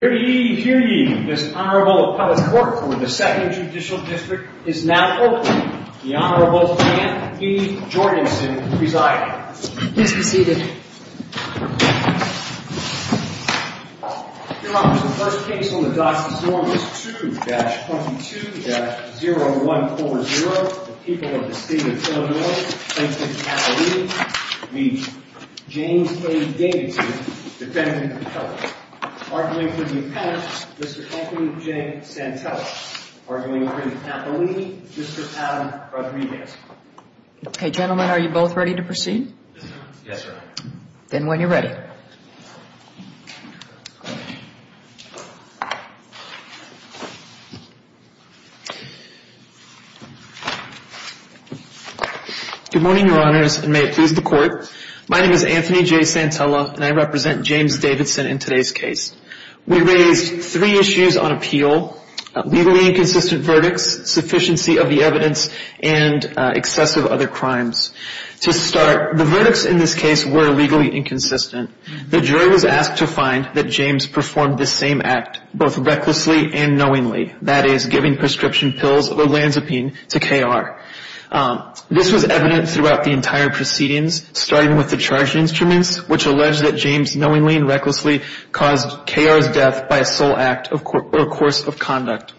Hear ye, hear ye, this Honorable Appellate Court for the 2nd Judicial District is now open. The Honorable Jan B. Jorgensen presiding. Yes, proceeded. Your Honor, the first case on the docket form is 2-22-0140. The people of the state of Illinois, Franklin County, meet James A. Davidson, defendant of the felon. Arguing for the appendix, Mr. Anthony J. Santella. Arguing for the appellee, Mr. Adam Rodriguez. Okay, gentlemen, are you both ready to proceed? Yes, Your Honor. Then when you're ready. Good morning, Your Honors, and may it please the Court. My name is Anthony J. Santella, and I represent James Davidson in today's case. We raised three issues on appeal. Legally inconsistent verdicts, sufficiency of the evidence, and excessive other crimes. To start, the verdicts in this case were legally inconsistent. The jury was asked to find that James performed this same act both recklessly and knowingly, that is, giving prescription pills or lansipine to K.R. This was evident throughout the entire proceedings, starting with the charge instruments, which alleged that James knowingly and recklessly caused K.R.'s death by a sole act or course of conduct.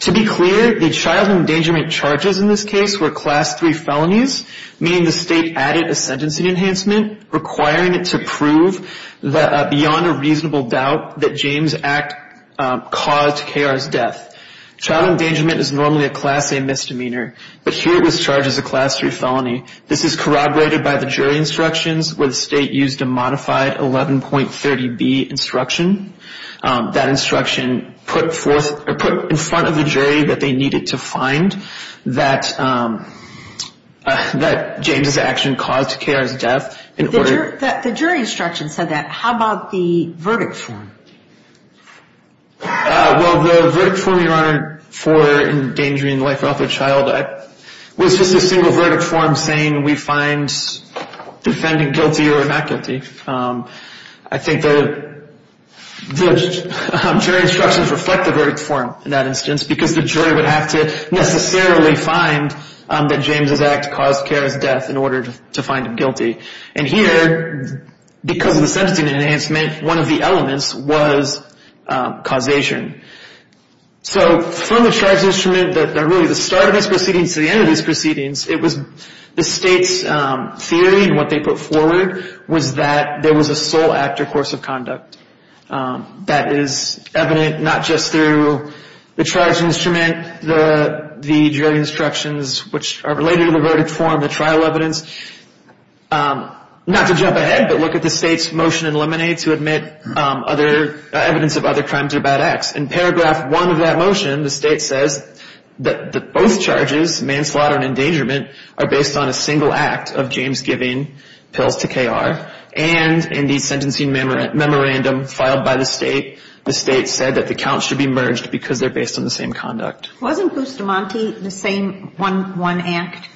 To be clear, the child endangerment charges in this case were Class III felonies, meaning the state added a sentencing enhancement requiring it to prove beyond a reasonable doubt that James' act caused K.R.'s death. Child endangerment is normally a Class A misdemeanor. But here it was charged as a Class III felony. This is corroborated by the jury instructions, where the state used a modified 11.30B instruction. That instruction put in front of the jury that they needed to find that James' action caused K.R.'s death. The jury instruction said that. How about the verdict form? Well, the verdict form, Your Honor, for endangering the life or health of a child, was just a single verdict form saying we find defendant guilty or not guilty. I think the jury instructions reflect the verdict form in that instance because the jury would have to necessarily find that James' act caused K.R.'s death in order to find him guilty. And here, because of the sentencing enhancement, one of the elements was causation. So from the charge instrument, really the start of this proceeding to the end of this proceeding, it was the state's theory and what they put forward was that there was a sole actor course of conduct. That is evident not just through the charge instrument, the jury instructions, which are related to the verdict form, the trial evidence, not to jump ahead, but look at the state's motion in Lemonade to admit evidence of other crimes or bad acts. In paragraph one of that motion, the state says that both charges, manslaughter and endangerment, are based on a single act of James giving pills to K.R. And in the sentencing memorandum filed by the state, the state said that the counts should be merged because they're based on the same conduct. Wasn't Bustamante the same one act?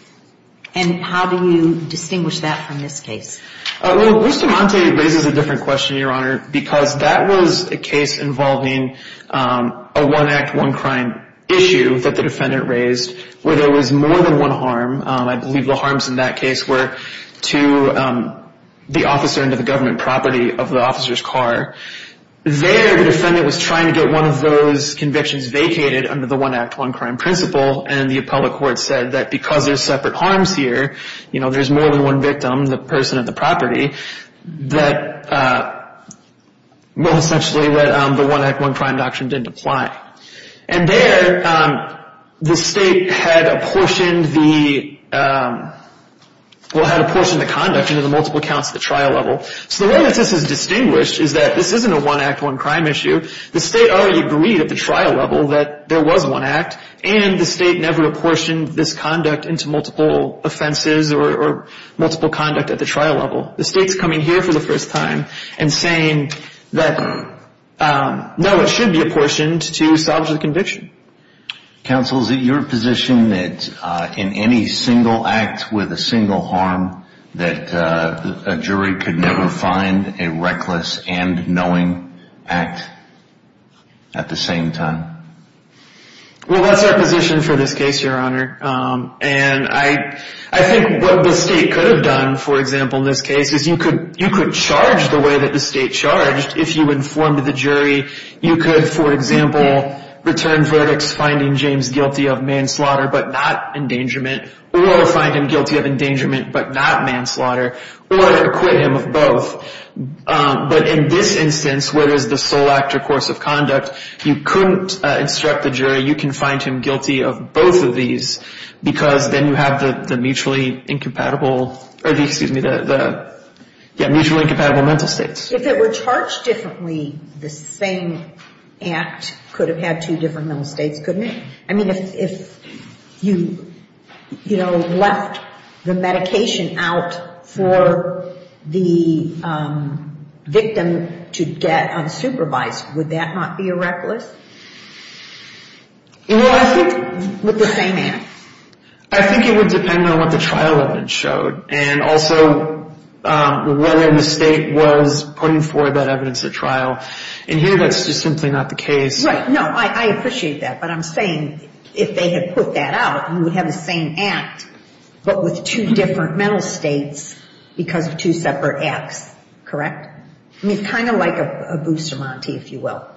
And how do you distinguish that from this case? Well, Bustamante raises a different question, Your Honor, because that was a case involving a one act, one crime issue that the defendant raised where there was more than one harm. I believe the harms in that case were to the officer and to the government property of the officer's car. There, the defendant was trying to get one of those convictions vacated under the one act, one crime principle, and the appellate court said that because there's separate harms here, you know, there's more than one victim, the person at the property, that, well, essentially, the one act, one crime doctrine didn't apply. And there, the state had apportioned the, well, had apportioned the conduct into the multiple counts at the trial level. So the way that this is distinguished is that this isn't a one act, one crime issue. The state already agreed at the trial level that there was one act, and the state never apportioned this conduct into multiple offenses or multiple conduct at the trial level. The state's coming here for the first time and saying that, no, it should be apportioned to salvage the conviction. Counsel, is it your position that in any single act with a single harm, that a jury could never find a reckless and knowing act at the same time? Well, that's our position for this case, Your Honor. And I think what the state could have done, for example, in this case, is you could charge the way that the state charged. If you informed the jury, you could, for example, return verdicts, finding James guilty of manslaughter but not endangerment, or find him guilty of endangerment but not manslaughter, or acquit him of both. But in this instance, where there's the sole act or course of conduct, you couldn't instruct the jury. You can find him guilty of both of these because then you have the mutually incompatible, or the, excuse me, the, yeah, mutually incompatible mental states. If it were charged differently, the same act could have had two different mental states, couldn't it? I mean, if you, you know, left the medication out for the victim to get unsupervised, would that not be a reckless? Well, I think... With the same act? I think it would depend on what the trial evidence showed, and also whether the state was putting forward that evidence at trial. And here, that's just simply not the case. Right. No, I appreciate that. But I'm saying if they had put that out, you would have the same act but with two different mental states because of two separate acts, correct? I mean, it's kind of like a Boozer Monty, if you will.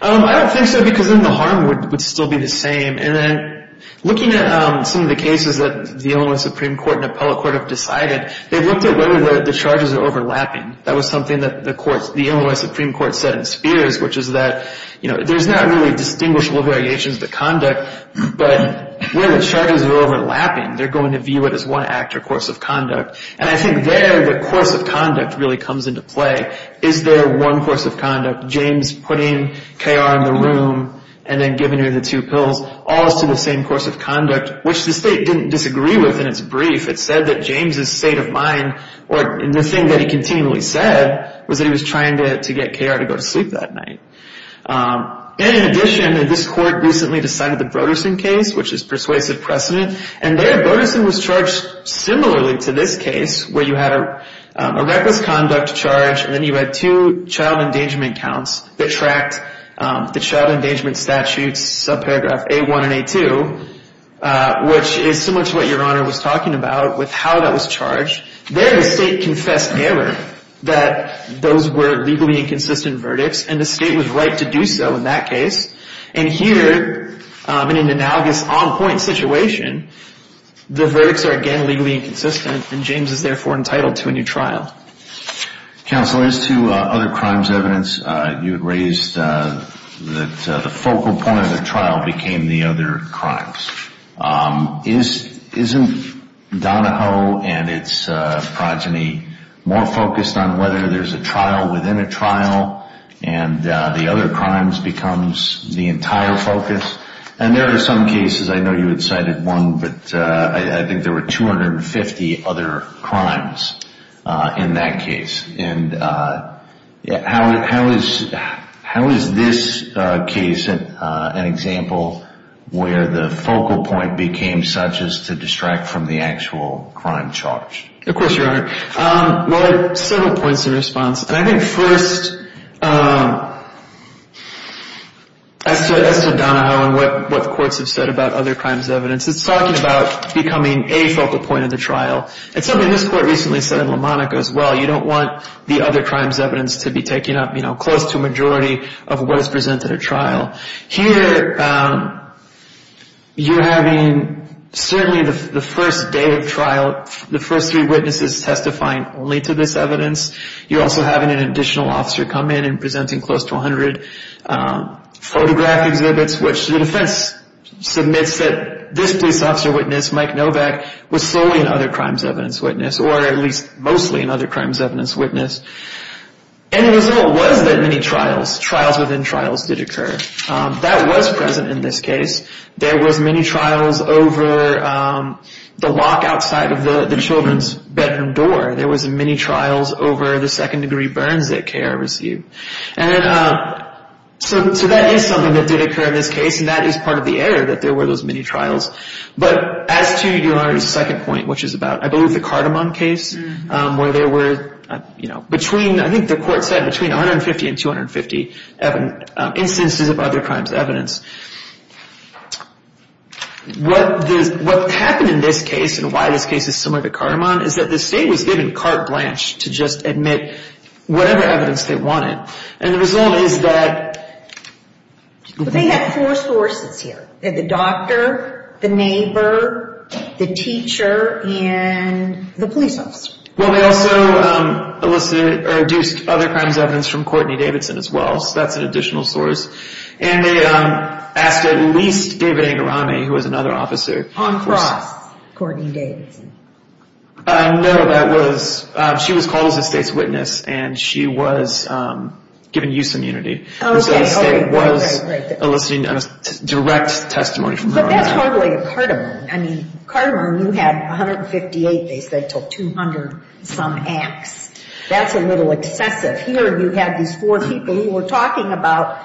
I don't think so because then the harm would still be the same. And then looking at some of the cases that the Illinois Supreme Court and appellate court have decided, they've looked at whether the charges are overlapping. That was something that the Illinois Supreme Court said in Spears, which is that, you know, there's not really distinguishable variations of the conduct, but where the charges are overlapping, they're going to view it as one act or course of conduct. And I think there the course of conduct really comes into play. Is there one course of conduct? James putting KR in the room and then giving her the two pills, all to the same course of conduct, which the state didn't disagree with in its brief. It said that James' state of mind, or the thing that he continually said, was that he was trying to get KR to go to sleep that night. And in addition, this court recently decided the Brodersen case, which is persuasive precedent, and there Brodersen was charged similarly to this case where you had a reckless conduct charge and then you had two child endangerment counts that tracked the child endangerment statutes, subparagraph A1 and A2, which is similar to what Your Honor was talking about with how that was charged. There the state confessed error that those were legally inconsistent verdicts, and the state was right to do so in that case. And here, in an analogous on-point situation, the verdicts are again legally inconsistent, and James is therefore entitled to a new trial. Counsel, as to other crimes evidence, you had raised that the focal point of the trial became the other crimes. Isn't Donahoe and its progeny more focused on whether there's a trial within a trial and the other crimes becomes the entire focus? And there are some cases, I know you had cited one, but I think there were 250 other crimes in that case, and how is this case an example where the focal point became such as to distract from the actual crime charge? Of course, Your Honor. Well, there are several points of response. And I think first, as to Donahoe and what the courts have said about other crimes evidence, it's talking about becoming a focal point of the trial. It's something this court recently said in Lamonica as well. You don't want the other crimes evidence to be taken up, you know, close to a majority of what is presented at trial. Here, you're having certainly the first day of trial, the first three witnesses testifying only to this evidence. You're also having an additional officer come in and presenting close to 100 photograph exhibits, which the defense submits that this police officer witness, Mike Novak, was solely an other crimes evidence witness, or at least mostly an other crimes evidence witness. And the result was that many trials, trials within trials, did occur. That was present in this case. There was many trials over the lock outside of the children's bedroom door. There was many trials over the second-degree burns that K.R. received. And so that is something that did occur in this case, and that is part of the error, that there were those many trials. But as to your second point, which is about, I believe, the Cardamon case, where there were, you know, between, I think the court said between 150 and 250 instances of other crimes evidence. What happened in this case, and why this case is similar to Cardamon, is that the state was given carte blanche to just admit whatever evidence they wanted. And the result is that- But they had four sources here. They had the doctor, the neighbor, the teacher, and the police officer. Well, they also elicited or deduced other crimes evidence from Courtney Davidson as well. So that's an additional source. And they asked at least David Angarani, who was another officer- John Cross, Courtney Davidson. No, that was- she was called as a state's witness, and she was given use immunity. Oh, okay. The state was eliciting direct testimony from her. But that's hardly a Cardamon. I mean, Cardamon, you had 158, they said, till 200-some acts. That's a little excessive. Here you had these four people who were talking about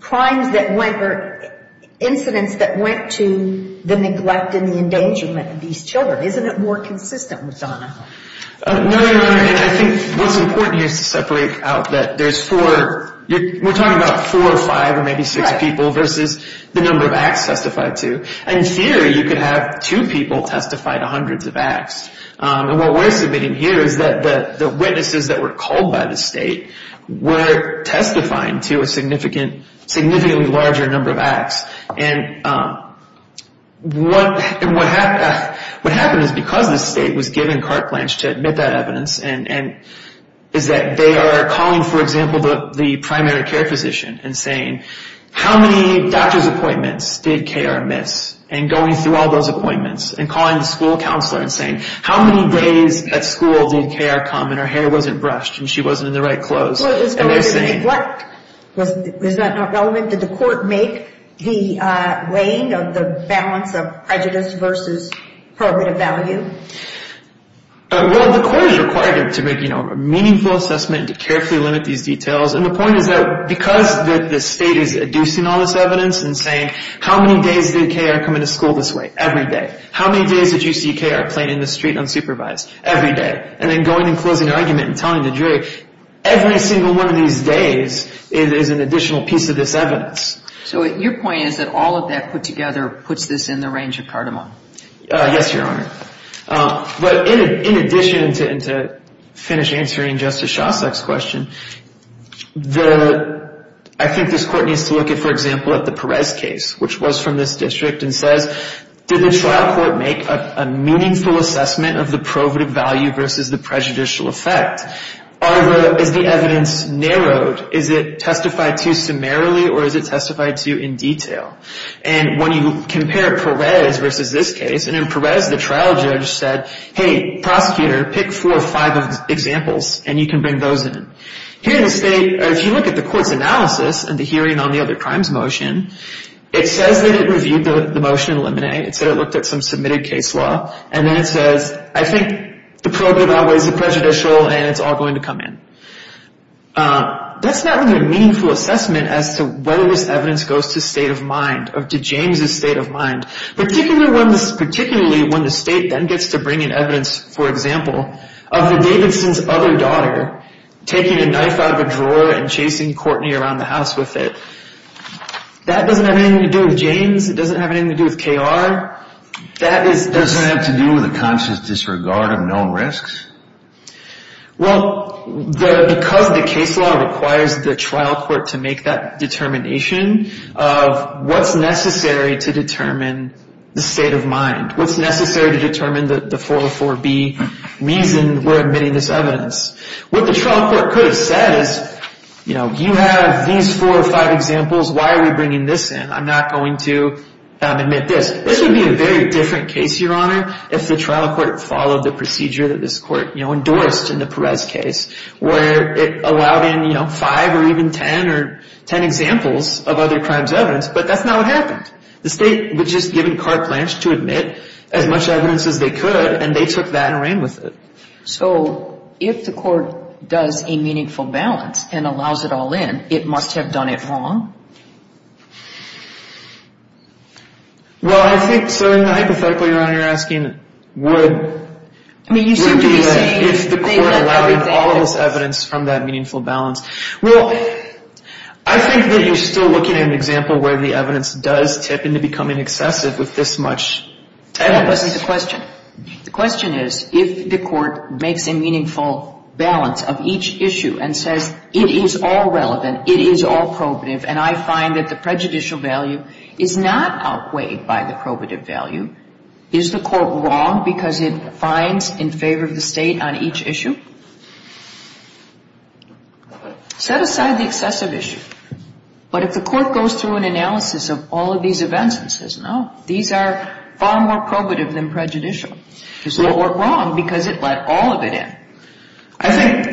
crimes that went or incidents that went to the neglect and the endangerment of these children. Isn't it more consistent with Donahoe? No, Your Honor, and I think what's important here is to separate out that there's four- we're talking about four or five or maybe six people versus the number of acts testified to. And here you could have two people testify to hundreds of acts. And what we're submitting here is that the witnesses that were called by the state were testifying to a significantly larger number of acts. And what happened is because the state was given carte blanche to admit that evidence is that they are calling, for example, the primary care physician and saying, how many doctor's appointments did KR miss, and going through all those appointments and calling the school counselor and saying, how many days at school did KR come and her hair wasn't brushed and she wasn't in the right clothes. Was that not relevant? Did the court make the weighing of the balance of prejudice versus probative value? Well, the court is required to make a meaningful assessment and to carefully limit these details. And the point is that because the state is adducing all this evidence and saying, how many days did KR come into school this way? Every day. How many days did you see KR playing in the street unsupervised? Every day. And then going and closing the argument and telling the jury, every single one of these days is an additional piece of this evidence. So your point is that all of that put together puts this in the range of cardamom? Yes, Your Honor. But in addition to finish answering Justice Shostak's question, I think this court needs to look at, for example, at the Perez case, which was from this district and says, did the trial court make a meaningful assessment of the probative value versus the prejudicial effect? Is the evidence narrowed? Is it testified to summarily or is it testified to in detail? And when you compare Perez versus this case, and in Perez the trial judge said, hey, prosecutor, pick four or five examples and you can bring those in. Here in the state, if you look at the court's analysis and the hearing on the other crimes motion, it says that it reviewed the motion in Lemonnet, it said it looked at some submitted case law, and then it says, I think the probative outweighs the prejudicial and it's all going to come in. That's not really a meaningful assessment as to whether this evidence goes to state of mind or to James' state of mind, particularly when the state then gets to bring in evidence, for example, of the Davidson's other daughter taking a knife out of a drawer and chasing Courtney around the house with it. That doesn't have anything to do with James. It doesn't have anything to do with KR. It doesn't have to do with a conscious disregard of known risks? Well, because the case law requires the trial court to make that determination of what's necessary to determine the state of mind, what's necessary to determine the 404B reason we're admitting this evidence. What the trial court could have said is, you know, you have these four or five examples, why are we bringing this in? I'm not going to admit this. This would be a very different case, Your Honor, if the trial court followed the procedure that this court, you know, but that's not what happened. The state was just given carte blanche to admit as much evidence as they could, and they took that and ran with it. So if the court does a meaningful balance and allows it all in, it must have done it wrong? Well, I think, sir, hypothetically, Your Honor, you're asking would be if the court allowed all of this evidence from that meaningful balance. Well, I think that you're still looking at an example where the evidence does tip into becoming excessive with this much evidence. That wasn't the question. The question is, if the court makes a meaningful balance of each issue and says it is all relevant, it is all probative, and I find that the prejudicial value is not outweighed by the probative value, is the court wrong because it finds in favor of the state on each issue? Set aside the excessive issue. But if the court goes through an analysis of all of these events and says, no, these are far more probative than prejudicial, is the court wrong because it let all of it in? I think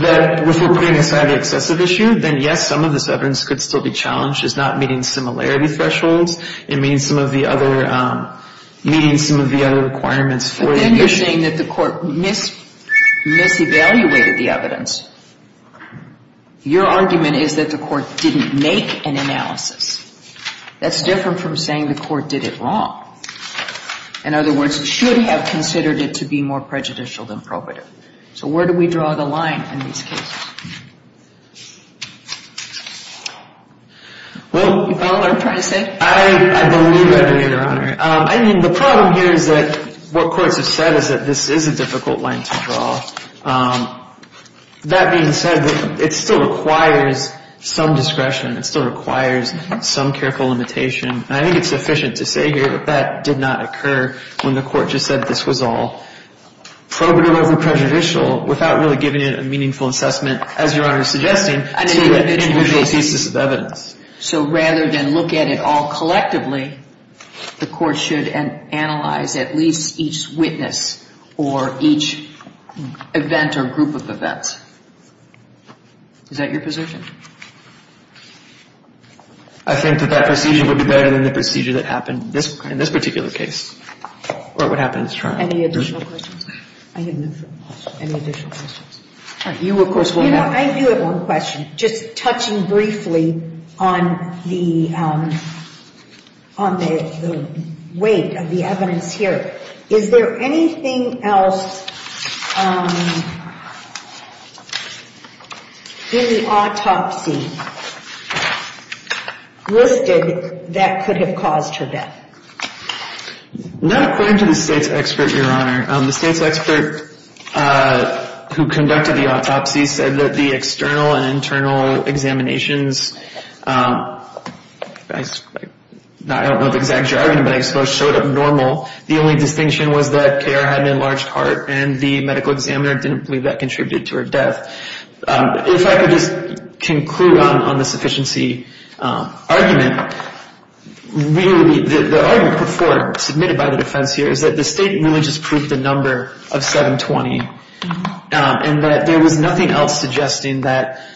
that if we're putting aside the excessive issue, then, yes, some of this evidence could still be challenged. It's not meeting similarity thresholds. It meets some of the other requirements for the issue. If you're saying that the court mis-evaluated the evidence, your argument is that the court didn't make an analysis. That's different from saying the court did it wrong. In other words, it should have considered it to be more prejudicial than probative. So where do we draw the line in these cases? You follow what I'm trying to say? I believe that, Your Honor. I mean, the problem here is that what courts have said is that this is a difficult line to draw. That being said, it still requires some discretion. It still requires some careful limitation. And I think it's sufficient to say here that that did not occur when the court just said this was all probative over prejudicial without really giving it a meaningful assessment, as Your Honor is suggesting, to an individual thesis of evidence. So rather than look at it all collectively, the court should analyze at least each witness or each event or group of events. Is that your position? I think that that procedure would be better than the procedure that happened in this particular case, or what happened in this trial. Any additional questions? I didn't know if there were any additional questions. You, of course, will have one. I do have one question, just touching briefly on the weight of the evidence here. Is there anything else in the autopsy listed that could have caused her death? Not according to the state's expert, Your Honor. The state's expert who conducted the autopsy said that the external and internal examinations, I don't know the exact jargon, but I suppose showed up normal. The only distinction was that KR had an enlarged heart, and the medical examiner didn't believe that contributed to her death. If I could just conclude on the sufficiency argument, really, the argument before submitted by the defense here is that the state really just proved a number of 720, and that there was nothing else suggesting that,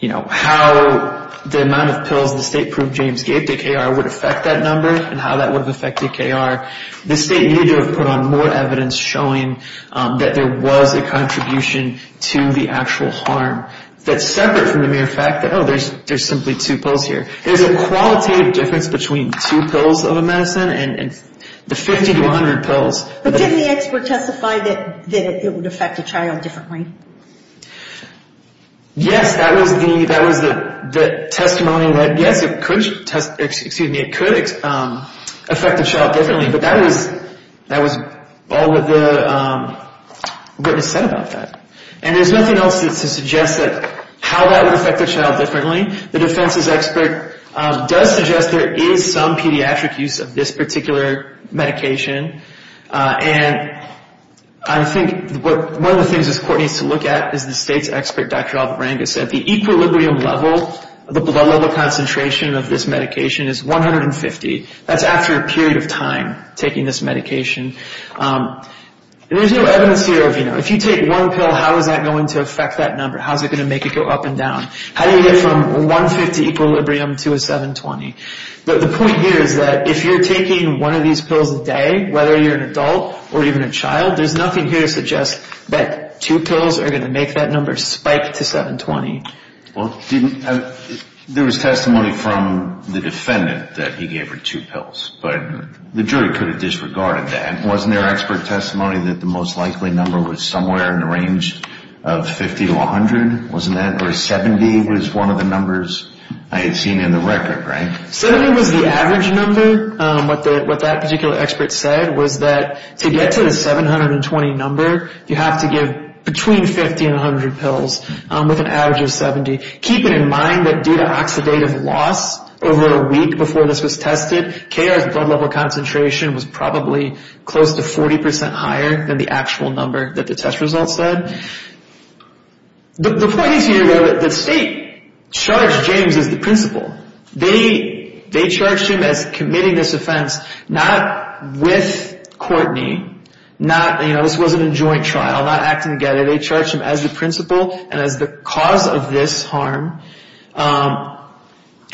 you know, how the amount of pills the state proved James gave to KR would affect that number and how that would have affected KR. The state needed to have put on more evidence showing that there was a contribution to the actual harm that's separate from the mere fact that, oh, there's simply two pills here. There's a qualitative difference between two pills of a medicine and the 50 to 100 pills. But didn't the expert testify that it would affect a child differently? Yes, that was the testimony that, yes, it could affect a child differently, but that was all that was said about that. And there's nothing else to suggest that how that would affect a child differently. The defense's expert does suggest there is some pediatric use of this particular medication, and I think one of the things this court needs to look at is the state's expert, Dr. Albert Rangus, said the equilibrium level of the blood level concentration of this medication is 150. That's after a period of time taking this medication. There's no evidence here of, you know, if you take one pill, how is that going to affect that number? How is it going to make it go up and down? How do you get from 150 equilibrium to a 720? The point here is that if you're taking one of these pills a day, whether you're an adult or even a child, there's nothing here to suggest that two pills are going to make that number spike to 720. Well, there was testimony from the defendant that he gave her two pills, but the jury could have disregarded that. Wasn't there expert testimony that the most likely number was somewhere in the range of 50 to 100? Or 70 was one of the numbers I had seen in the record, right? 70 was the average number. What that particular expert said was that to get to the 720 number, you have to give between 50 and 100 pills with an average of 70, keeping in mind that due to oxidative loss over a week before this was tested, KR's blood level concentration was probably close to 40 percent higher than the actual number that the test result said. The point is here, though, that the state charged James as the principal. They charged him as committing this offense not with Courtney. This wasn't a joint trial, not acting together. They charged him as the principal and as the cause of this harm.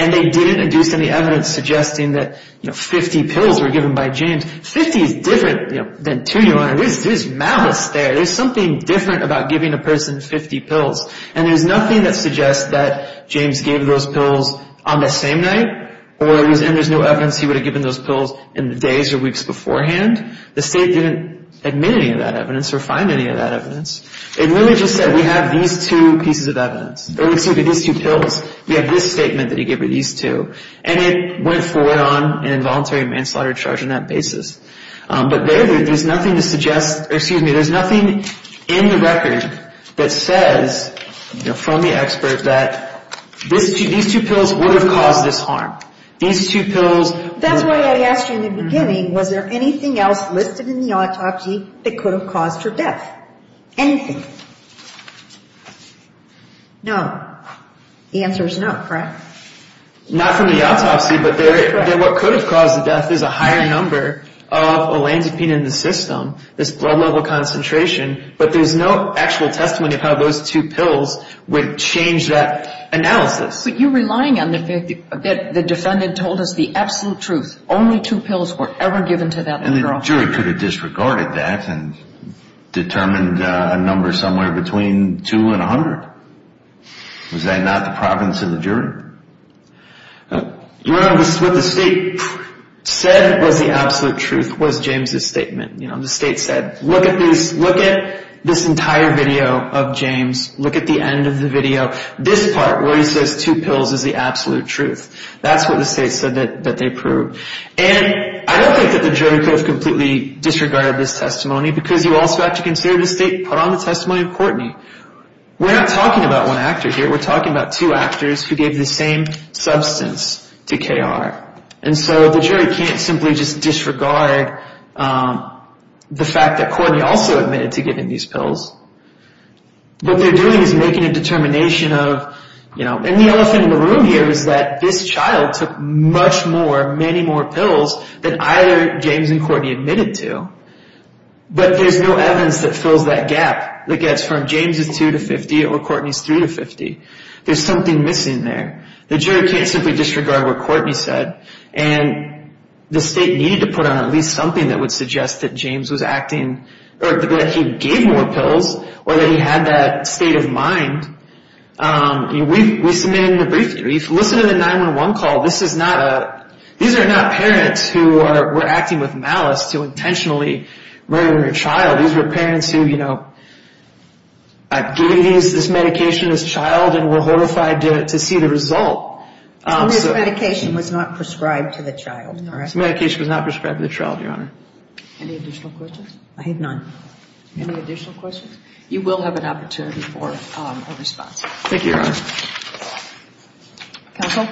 And they didn't induce any evidence suggesting that 50 pills were given by James. 50 is different than 2,000. There's malice there. There's something different about giving a person 50 pills. And there's nothing that suggests that James gave those pills on the same night or there's no evidence he would have given those pills in the days or weeks beforehand. The state didn't admit any of that evidence or find any of that evidence. It really just said we have these two pieces of evidence. It looks at these two pills. We have this statement that he gave her, these two. And it went forward on an involuntary manslaughter charge on that basis. But there, there's nothing to suggest, or excuse me, there's nothing in the record that says from the expert that these two pills would have caused this harm. These two pills were- That's why I asked you in the beginning, was there anything else listed in the autopsy that could have caused her death? Anything? No. The answer is no, correct? Not from the autopsy. But what could have caused the death is a higher number of olanzapine in the system, this blood level concentration. But there's no actual testament of how those two pills would change that analysis. But you're relying on the fact that the defendant told us the absolute truth, only two pills were ever given to that girl. And the jury could have disregarded that and determined a number somewhere between two and 100. Was that not the province of the jury? No, this is what the state said was the absolute truth, was James' statement. The state said, look at this entire video of James, look at the end of the video, this part where he says two pills is the absolute truth. That's what the state said that they proved. And I don't think that the jury could have completely disregarded this testimony because you also have to consider the state put on the testimony of Courtney. We're not talking about one actor here. We're talking about two actors who gave the same substance to KR. And so the jury can't simply just disregard the fact that Courtney also admitted to giving these pills. What they're doing is making a determination of, you know, and the elephant in the room here is that this child took much more, many more pills than either James and Courtney admitted to. But there's no evidence that fills that gap that gets from James' 2 to 50 or Courtney's 3 to 50. There's something missing there. The jury can't simply disregard what Courtney said. And the state needed to put on at least something that would suggest that James was acting, or that he gave more pills, or that he had that state of mind. We submitted a brief, listen to the 911 call. These are not parents who were acting with malice to intentionally murder a child. These were parents who, you know, gave this medication to this child and were horrified to see the result. This medication was not prescribed to the child. This medication was not prescribed to the child, Your Honor. Any additional questions? I have none. Any additional questions? You will have an opportunity for a response. Thank you, Your Honor. Counsel?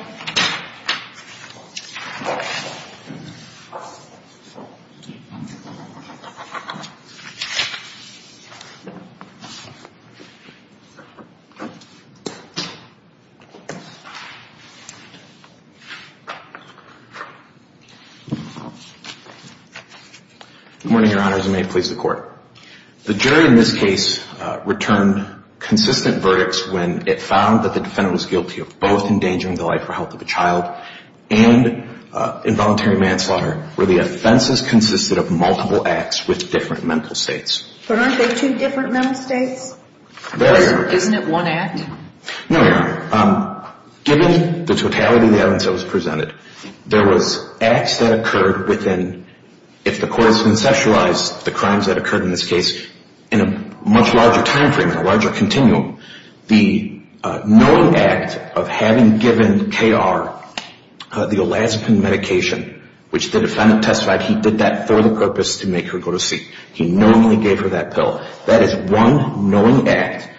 Good morning, Your Honors, and may it please the Court. The jury in this case returned consistent verdicts when it found that the defendant was guilty of both endangering the life or health of a child and involuntary manslaughter, where the offenses consisted of multiple acts with different mental states. But aren't they two different mental states? They are. Isn't it one act? No, Your Honor. Given the totality of the evidence that was presented, there was acts that occurred within, if the Court has conceptualized the crimes that occurred in this case, in a much larger timeframe, in a larger continuum. The knowing act of having given K.R. the Olazapine medication, which the defendant testified he did that for the purpose to make her go to sleep. He knowingly gave her that pill. That is one knowing act.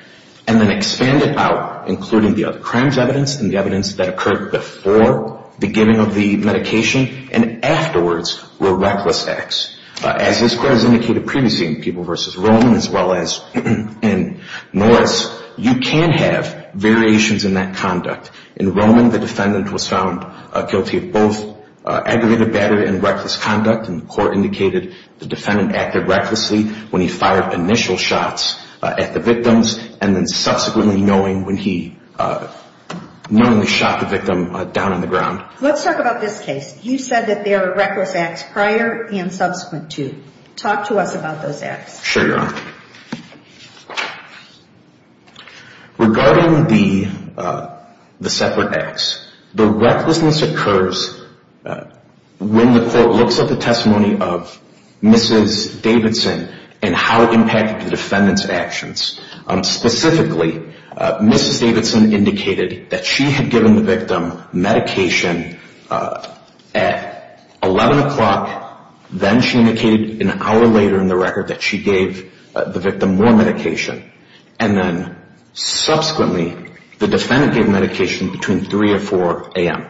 And then expand it out, including the other crimes evidenced and the evidence that occurred before the giving of the medication and afterwards were reckless acts. As this Court has indicated previously in Peeble v. Roman, as well as in Norris, you can have variations in that conduct. In Roman, the defendant was found guilty of both aggravated battery and reckless conduct, and the Court indicated the defendant acted recklessly when he fired initial shots at the victims and then subsequently knowing when he knowingly shot the victim down on the ground. Let's talk about this case. You said that there were reckless acts prior and subsequent to. Talk to us about those acts. Sure, Your Honor. Regarding the separate acts, the recklessness occurs when the Court looks at the testimony of Mrs. Davidson and how it impacted the defendant's actions. Specifically, Mrs. Davidson indicated that she had given the victim medication at 11 o'clock, then she indicated an hour later in the record that she gave the victim more medication, and then subsequently the defendant gave medication between 3 or 4 a.m.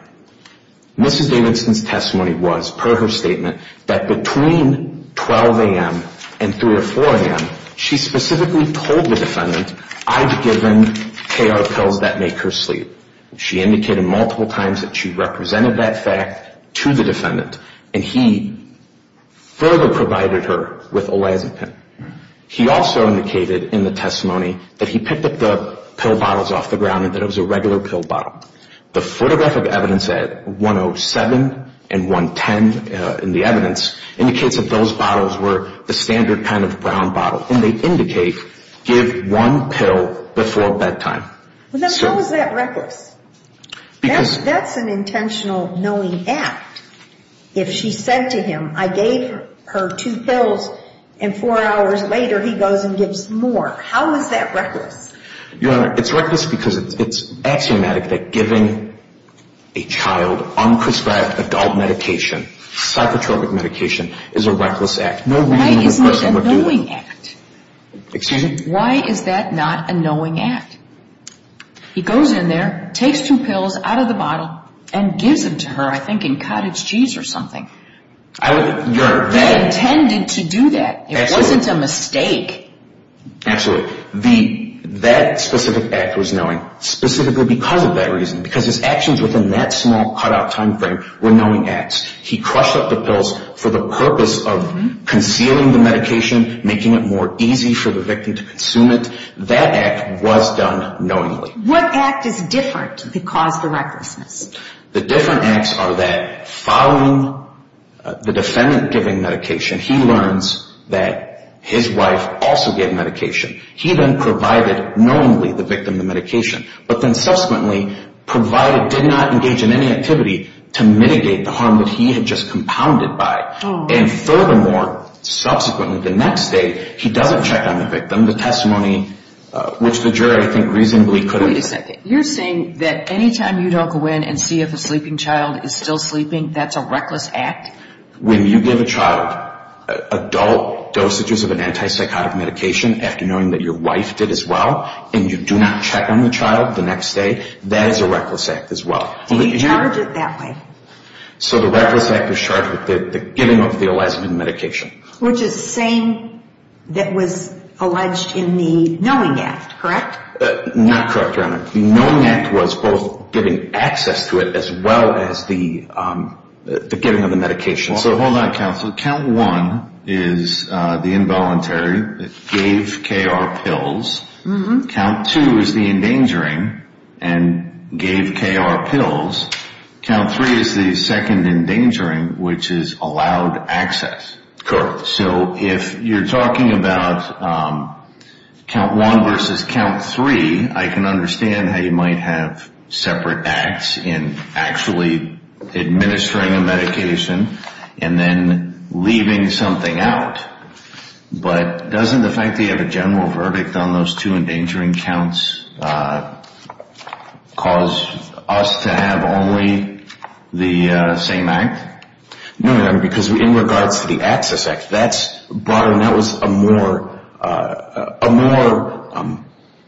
Mrs. Davidson's testimony was, per her statement, that between 12 a.m. and 3 or 4 a.m., she specifically told the defendant, I've given KR pills that make her sleep. She indicated multiple times that she represented that fact to the defendant, and he further provided her with Olazapine. He also indicated in the testimony that he picked up the pill bottles off the ground and that it was a regular pill bottle. The photographic evidence at 107 and 110 in the evidence indicates that those bottles were the standard kind of brown bottle, and they indicate give one pill before bedtime. How is that reckless? That's an intentional knowing act. If she said to him, I gave her two pills, and four hours later he goes and gives more. How is that reckless? Your Honor, it's reckless because it's axiomatic that giving a child unprescribed adult medication, psychotropic medication, is a reckless act. Why isn't it a knowing act? Excuse me? Why is that not a knowing act? He goes in there, takes two pills out of the bottle, and gives them to her, I think in cottage cheese or something. That intended to do that. It wasn't a mistake. Absolutely. That specific act was knowing, specifically because of that reason, because his actions within that small cutout time frame were knowing acts. He crushed up the pills for the purpose of concealing the medication, making it more easy for the victim to consume it. That act was done knowingly. What act is different that caused the recklessness? The different acts are that following the defendant giving medication, he learns that his wife also gave medication. He then provided knowingly the victim the medication, but then subsequently did not engage in any activity to mitigate the harm that he had just compounded by. And furthermore, subsequently the next day, he doesn't check on the victim. The testimony, which the jury, I think, reasonably couldn't. Wait a second. You're saying that any time you don't go in and see if a sleeping child is still sleeping, that's a reckless act? When you give a child adult dosages of an antipsychotic medication after knowing that your wife did as well, and you do not check on the child the next day, that is a reckless act as well. Do you charge it that way? So the reckless act is charged with the giving of the lesbian medication. Which is the same that was alleged in the knowing act, correct? Not correct, Your Honor. The knowing act was both giving access to it as well as the giving of the medication. So hold on, counsel. Count one is the involuntary, gave KR pills. Count two is the endangering and gave KR pills. Count three is the second endangering, which is allowed access. So if you're talking about count one versus count three, I can understand how you might have separate acts in actually administering a medication and then leaving something out. But doesn't the fact that you have a general verdict on those two endangering counts cause us to have only the same act? No, Your Honor, because in regards to the access act, that was a more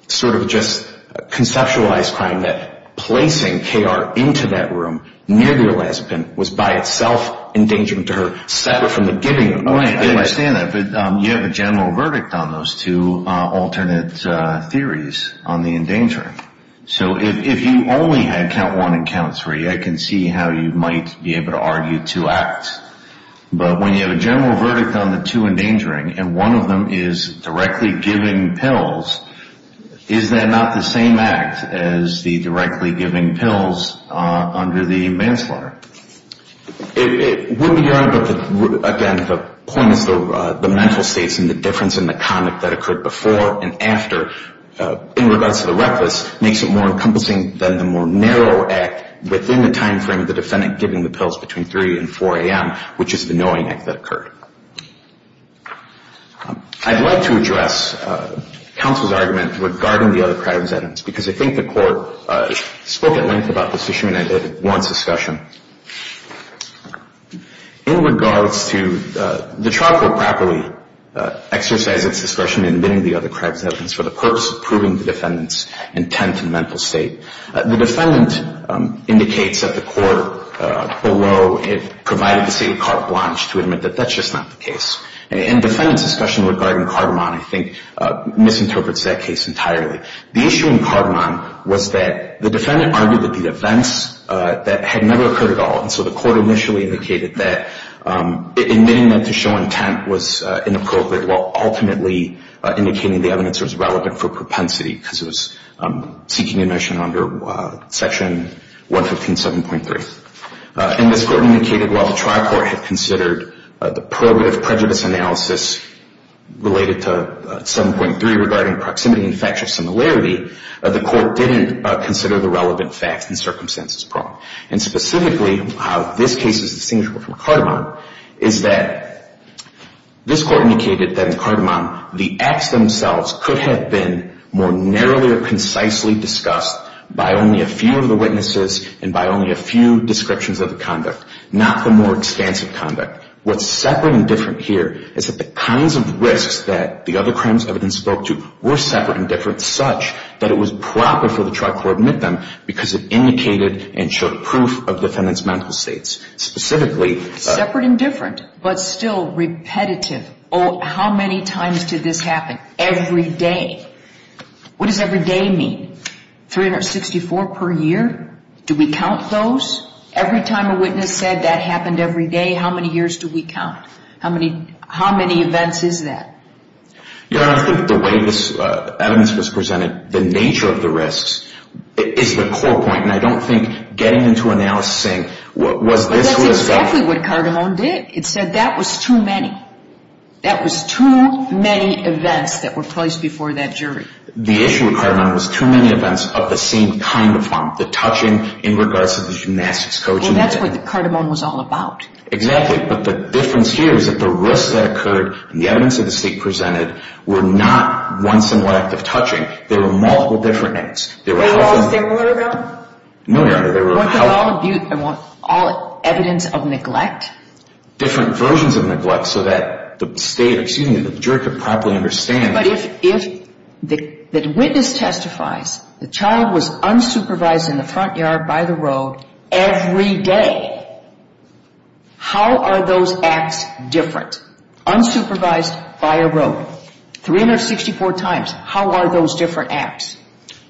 sort of just conceptualized crime, that placing KR into that room near the lesbian was by itself endangering to her, separate from the giving of the medication. Right, I understand that. But you have a general verdict on those two alternate theories on the endangering. So if you only had count one and count three, I can see how you might be able to argue two acts. But when you have a general verdict on the two endangering and one of them is directly giving pills, is that not the same act as the directly giving pills under the manslaughter? It would be, Your Honor, but, again, the point is the mental states and the difference in the conduct that occurred before and after, in regards to the reckless, makes it more encompassing than the more narrow act within the time frame of the defendant giving the pills between 3 and 4 a.m., which is the knowing act that occurred. I'd like to address counsel's argument regarding the other crimes evidence because I think the court spoke at length about this issue and I did at one discussion. In regards to the trial court properly exercised its discretion in admitting the other crimes evidence for the purpose of proving the defendant's intent and mental state. The defendant indicates at the court below it provided the state of carte blanche to admit that that's just not the case. And defendant's discussion regarding Cardamon, I think, misinterprets that case entirely. The issue in Cardamon was that the defendant argued that the events that had never occurred at all, and so the court initially indicated that admitting them to show intent was inappropriate while ultimately indicating the evidence was relevant for propensity because it was seeking admission under Section 115.7.3. And this court indicated while the trial court had considered the prohibitive prejudice analysis related to 7.3 regarding proximity and factual similarity, the court didn't consider the relevant facts and circumstances pronged. And specifically how this case is distinguishable from Cardamon is that this court indicated that in Cardamon the acts themselves could have been more narrowly or concisely discussed by only a few of the witnesses and by only a few descriptions of the conduct, not the more extensive conduct. What's separate and different here is that the kinds of risks that the other crimes evidence spoke to were separate and different such that it was proper for the trial court to admit them because it indicated and showed proof of defendant's mental states. Separate and different, but still repetitive. Oh, how many times did this happen every day? What does every day mean? 364 per year? Do we count those? Every time a witness said that happened every day, how many years do we count? How many events is that? Your Honor, I think the way this evidence was presented, the nature of the risks is the core point, and I don't think getting into analysis saying was this what was going on. But that's exactly what Cardamon did. It said that was too many. That was too many events that were placed before that jury. The issue with Cardamon was too many events of the same kind of fun, the touching in regards to the gymnastics coach. Well, that's what Cardamon was all about. Exactly, but the difference here is that the risks that occurred and the evidence that the state presented were not once in a lifetime touching. There were multiple different acts. Were they all similar, though? No, Your Honor. Were they all evidence of neglect? Different versions of neglect so that the state, excuse me, the jury could properly understand. But if the witness testifies the child was unsupervised in the front yard by the road every day, how are those acts different? Unsupervised by a road. 364 times. How are those different acts?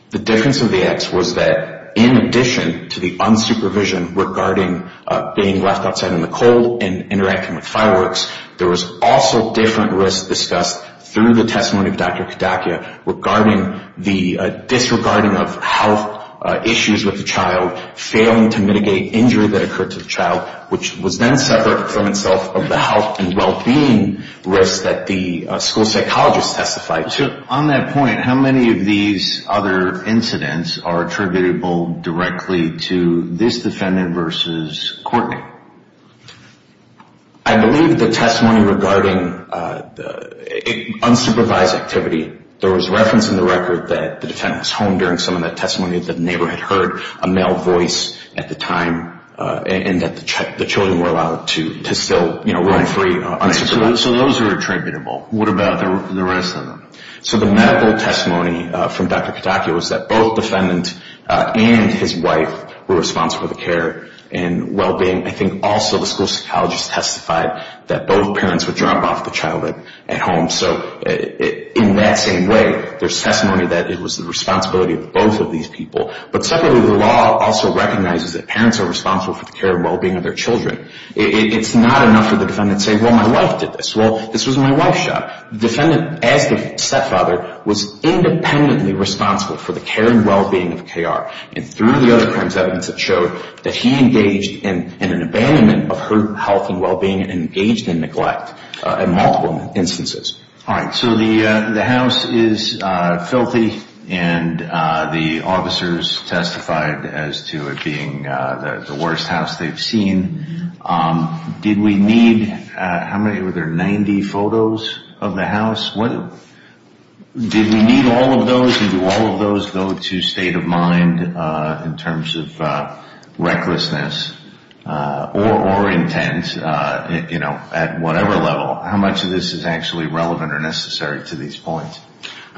The difference of the acts was that in addition to the unsupervision regarding being left outside in the cold and interacting with fireworks, there was also different risks discussed through the testimony of Dr. Kadakia regarding the disregarding of health issues with the child, failing to mitigate injury that occurred to the child, which was then separate from itself of the health and well-being risks that the school psychologist testified to. On that point, how many of these other incidents are attributable directly to this defendant versus Courtney? I believe the testimony regarding unsupervised activity. There was reference in the record that the defendant was home during some of the testimony that the neighbor had heard a male voice at the time and that the children were allowed to still roam free unsupervised. So those are attributable. What about the rest of them? So the medical testimony from Dr. Kadakia was that both the defendant and his wife were responsible for the care and well-being. I think also the school psychologist testified that both parents would drop off the child at home. So in that same way, there's testimony that it was the responsibility of both of these people. But secondly, the law also recognizes that parents are responsible for the care and well-being of their children. It's not enough for the defendant to say, well, my wife did this. Well, this was in my wife's shop. The defendant, as the stepfather, was independently responsible for the care and well-being of K.R. And through the other crimes evidence, it showed that he engaged in an abandonment of her health and well-being and engaged in neglect in multiple instances. All right, so the house is filthy and the officers testified as to it being the worst house they've seen. Did we need, how many, were there 90 photos of the house? Did we need all of those and do all of those go to state of mind in terms of recklessness or intent at whatever level? How much of this is actually relevant or necessary to these points?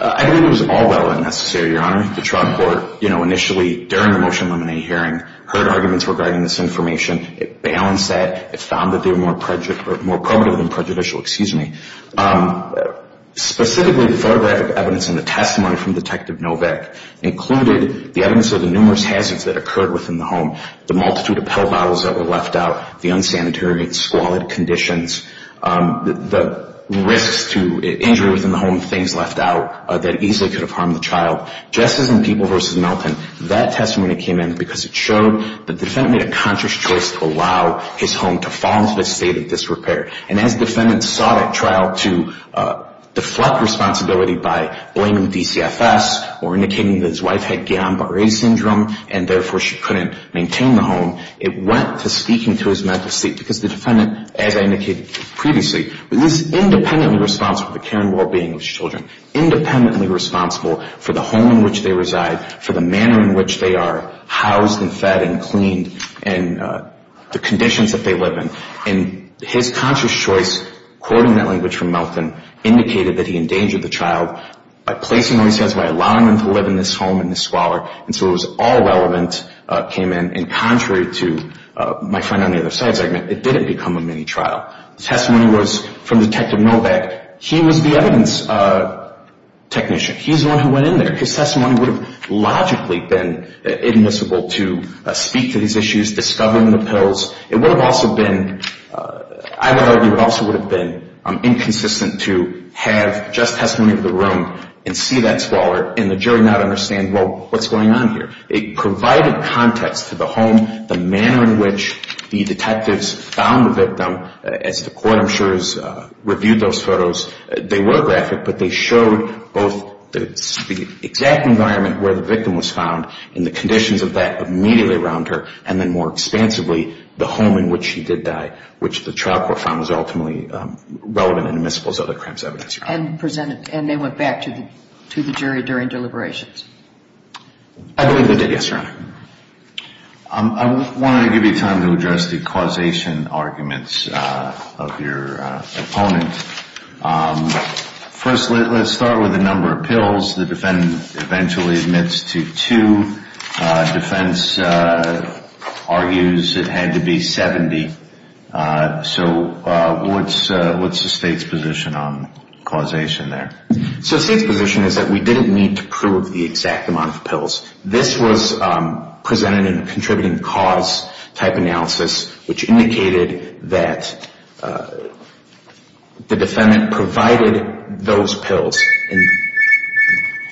I think it was all relevant and necessary, Your Honor. The trial court, you know, initially during the motion to eliminate hearing heard arguments regarding this information. It balanced that. It found that they were more probative than prejudicial, excuse me. Specifically, the photographic evidence and the testimony from Detective Novak included the evidence of the numerous hazards that occurred within the home, the multitude of pill bottles that were left out, the unsanitary and squalid conditions, the risks to injury within the home, things left out that easily could have harmed the child. Just as in People v. Melton, that testimony came in because it showed the defendant made a conscious choice to allow his home to fall into a state of disrepair. And as the defendant sought at trial to deflect responsibility by blaming DCFS or indicating that his wife had Guillain-Barre syndrome and therefore she couldn't maintain the home, it went to speaking to his mental state because the defendant, as I indicated previously, was independently responsible for the care and well-being of his children, independently responsible for the home in which they reside, for the manner in which they are housed and fed and cleaned and the conditions that they live in. And his conscious choice, quoting that language from Melton, indicated that he endangered the child by placing where he stands, by allowing them to live in this home in this squalor. And so it was all relevant came in. And contrary to my friend on the other side's argument, it didn't become a mini-trial. The testimony was from Detective Novak. He was the evidence technician. He's the one who went in there. His testimony would have logically been admissible to speak to these issues, discover the pills. It would have also been, I would argue, it also would have been inconsistent to have just testimony of the room and see that squalor and the jury not understand, well, what's going on here. It provided context to the home, the manner in which the detectives found the victim. As the court, I'm sure, has reviewed those photos, they were graphic, but they showed both the exact environment where the victim was found and the conditions of that immediately around her, and then more expansively, the home in which she did die, which the trial court found was ultimately relevant and admissible as other crimes evidence. And they went back to the jury during deliberations? I believe they did, yes, Your Honor. I want to give you time to address the causation arguments of your opponent. First, let's start with the number of pills. The defendant eventually admits to two. Defense argues it had to be 70. So what's the State's position on causation there? So the State's position is that we didn't need to prove the exact amount of pills. This was presented in a contributing cause type analysis, which indicated that the defendant provided those pills,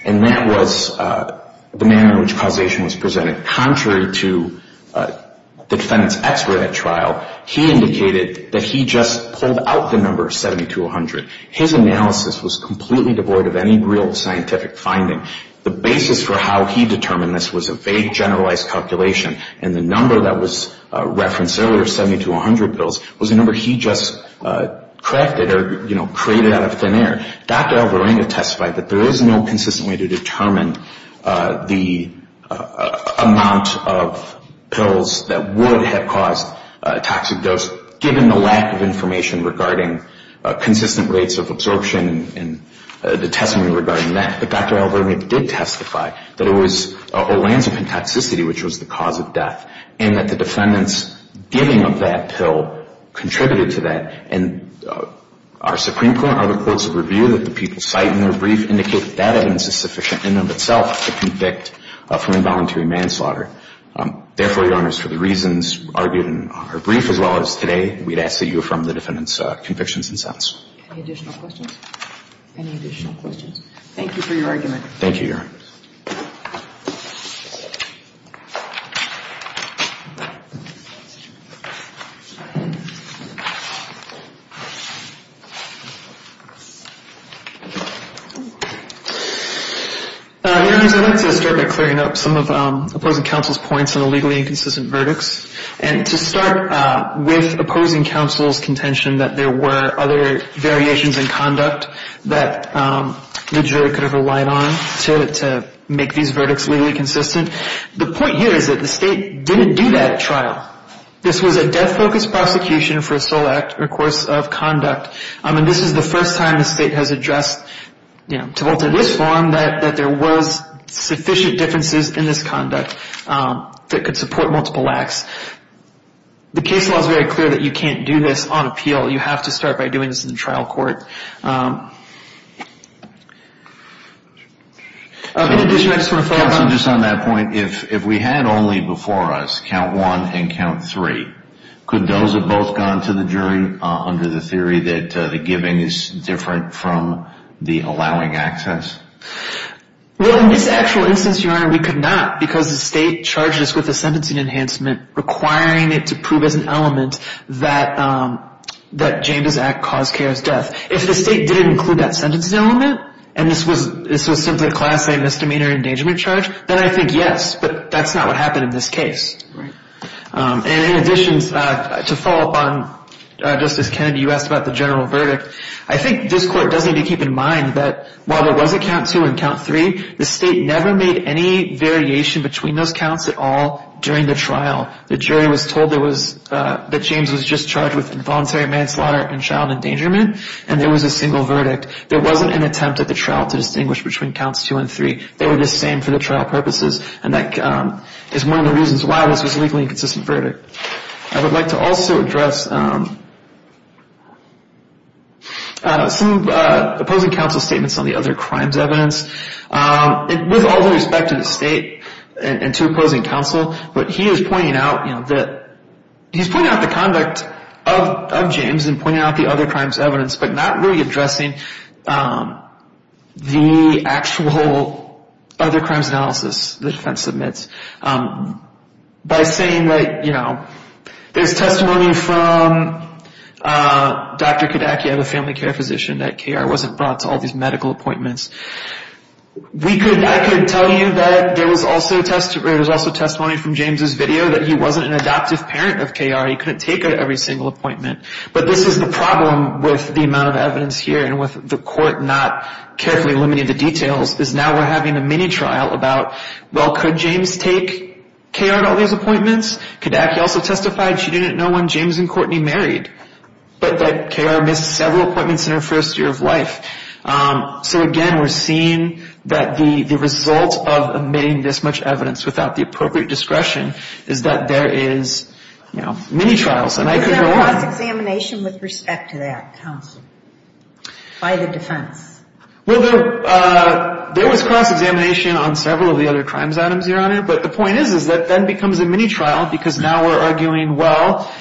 and that was the manner in which causation was presented. Contrary to the defendant's expert at trial, he indicated that he just pulled out the number 70 to 100. His analysis was completely devoid of any real scientific finding. The basis for how he determined this was a vague generalized calculation, and the number that was referenced earlier, 70 to 100 pills, was a number he just crafted or, you know, created out of thin air. Dr. Alvarado testified that there is no consistent way to determine the amount of pills that would have caused a toxic dose, given the lack of information regarding consistent rates of absorption and the testimony regarding that. But Dr. Alvarado did testify that it was a landscape in toxicity, which was the cause of death, and that the defendant's giving of that pill contributed to that. And our Supreme Court articles of review that the people cite in their brief indicate that evidence is sufficient in and of itself to convict from involuntary manslaughter. Therefore, Your Honors, for the reasons argued in our brief as well as today, we'd ask that you affirm the defendant's convictions and sentence. Any additional questions? Any additional questions? Thank you for your argument. Thank you, Your Honor. Your Honors, I'd like to start by clearing up some of opposing counsel's points on the legally inconsistent verdicts. And to start with opposing counsel's contention that there were other variations in conduct that the jury could have relied on to determine whether or not the defendant was guilty. The point here is that the state didn't do that trial. This was a death-focused prosecution for a sole act or course of conduct. And this is the first time the state has addressed to this forum that there was sufficient differences in this conduct that could support multiple acts. The case law is very clear that you can't do this on appeal. You have to start by doing this in trial court. In addition, I just want to follow up on that. Counsel, just on that point, if we had only before us count one and count three, could those have both gone to the jury under the theory that the giving is different from the allowing access? Well, in this actual instance, Your Honor, we could not because the state charged us with a sentencing enhancement requiring it to prove as an element that James' act caused Kara's death. If the state didn't include that sentencing element and this was simply a class A misdemeanor endangerment charge, then I think yes, but that's not what happened in this case. And in addition, to follow up on Justice Kennedy, you asked about the general verdict. I think this Court does need to keep in mind that while there was a count two and count three, the state never made any variation between those counts at all during the trial. The jury was told that James was just charged with involuntary manslaughter and child endangerment, and there was a single verdict. There wasn't an attempt at the trial to distinguish between counts two and three. They were the same for the trial purposes, and that is one of the reasons why this was a legally inconsistent verdict. I would like to also address some opposing counsel statements on the other crimes evidence. With all due respect to the state and to opposing counsel, he is pointing out the conduct of James and pointing out the other crimes evidence, but not really addressing the actual other crimes analysis the defense submits. By saying that there's testimony from Dr. Kodaki of a family care physician that I could tell you that there was also testimony from James' video that he wasn't an adoptive parent of K.R. He couldn't take every single appointment. But this is the problem with the amount of evidence here and with the Court not carefully limiting the details, is now we're having a mini-trial about, well, could James take K.R. to all these appointments? Kodaki also testified she didn't know when James and Courtney married, but that K.R. missed several appointments in her first year of life. So, again, we're seeing that the result of omitting this much evidence without the appropriate discretion is that there is, you know, mini-trials. And I could go on. Was there a cross-examination with respect to that, counsel, by the defense? Well, there was cross-examination on several of the other crimes items, Your Honor. But the point is, is that then becomes a mini-trial because now we're arguing, well,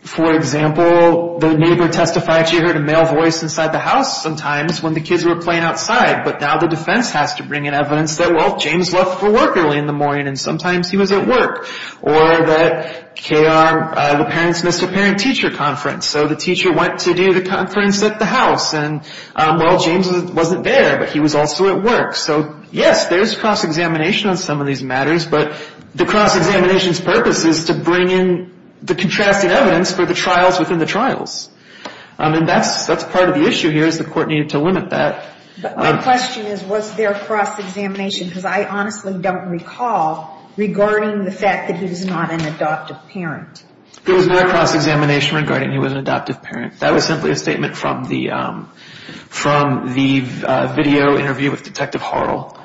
for example, the neighbor testified she heard a male voice inside the house sometimes when the kids were playing outside. But now the defense has to bring in evidence that, well, James left for work early in the morning, and sometimes he was at work. Or that K.R., the parents missed a parent-teacher conference, so the teacher went to do the conference at the house. And, well, James wasn't there, but he was also at work. So, yes, there is cross-examination on some of these matters. But the cross-examination's purpose is to bring in the contrasting evidence for the trials within the trials. And that's part of the issue here is the court needed to limit that. My question is, was there cross-examination? Because I honestly don't recall regarding the fact that he was not an adoptive parent. There was no cross-examination regarding he was an adoptive parent. That was simply a statement from the video interview with Detective Harrell.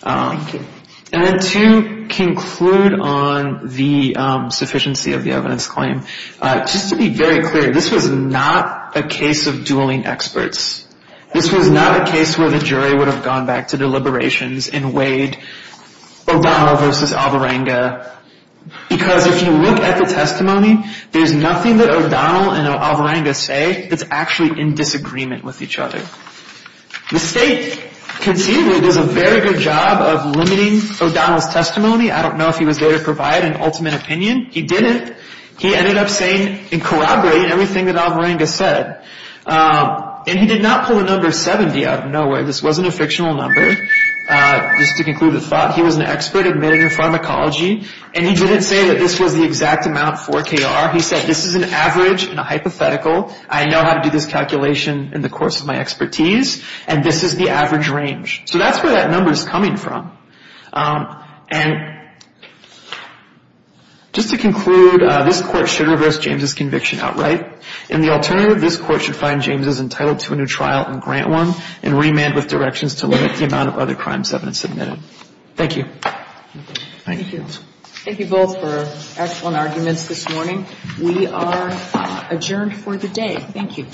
Thank you. And then to conclude on the sufficiency of the evidence claim, just to be very clear, this was not a case of dueling experts. This was not a case where the jury would have gone back to deliberations and weighed O'Donnell versus Alvarenga, because if you look at the testimony, there's nothing that O'Donnell and Alvarenga say that's actually in disagreement with each other. The state, conceivably, does a very good job of limiting O'Donnell's testimony. I don't know if he was there to provide an ultimate opinion. He didn't. He ended up saying and corroborating everything that Alvarenga said. And he did not pull a number 70 out of nowhere. This wasn't a fictional number. Just to conclude the thought, he was an expert admitted in pharmacology, and he didn't say that this was the exact amount for KR. He said this is an average and a hypothetical. I know how to do this calculation in the course of my expertise, and this is the average range. So that's where that number is coming from. And just to conclude, this Court should reverse James' conviction outright. In the alternative, this Court should find James as entitled to a new trial and grant one and remand with directions to limit the amount of other crime evidence submitted. Thank you. Thank you. Thank you both for excellent arguments this morning. We are adjourned for the day. Thank you.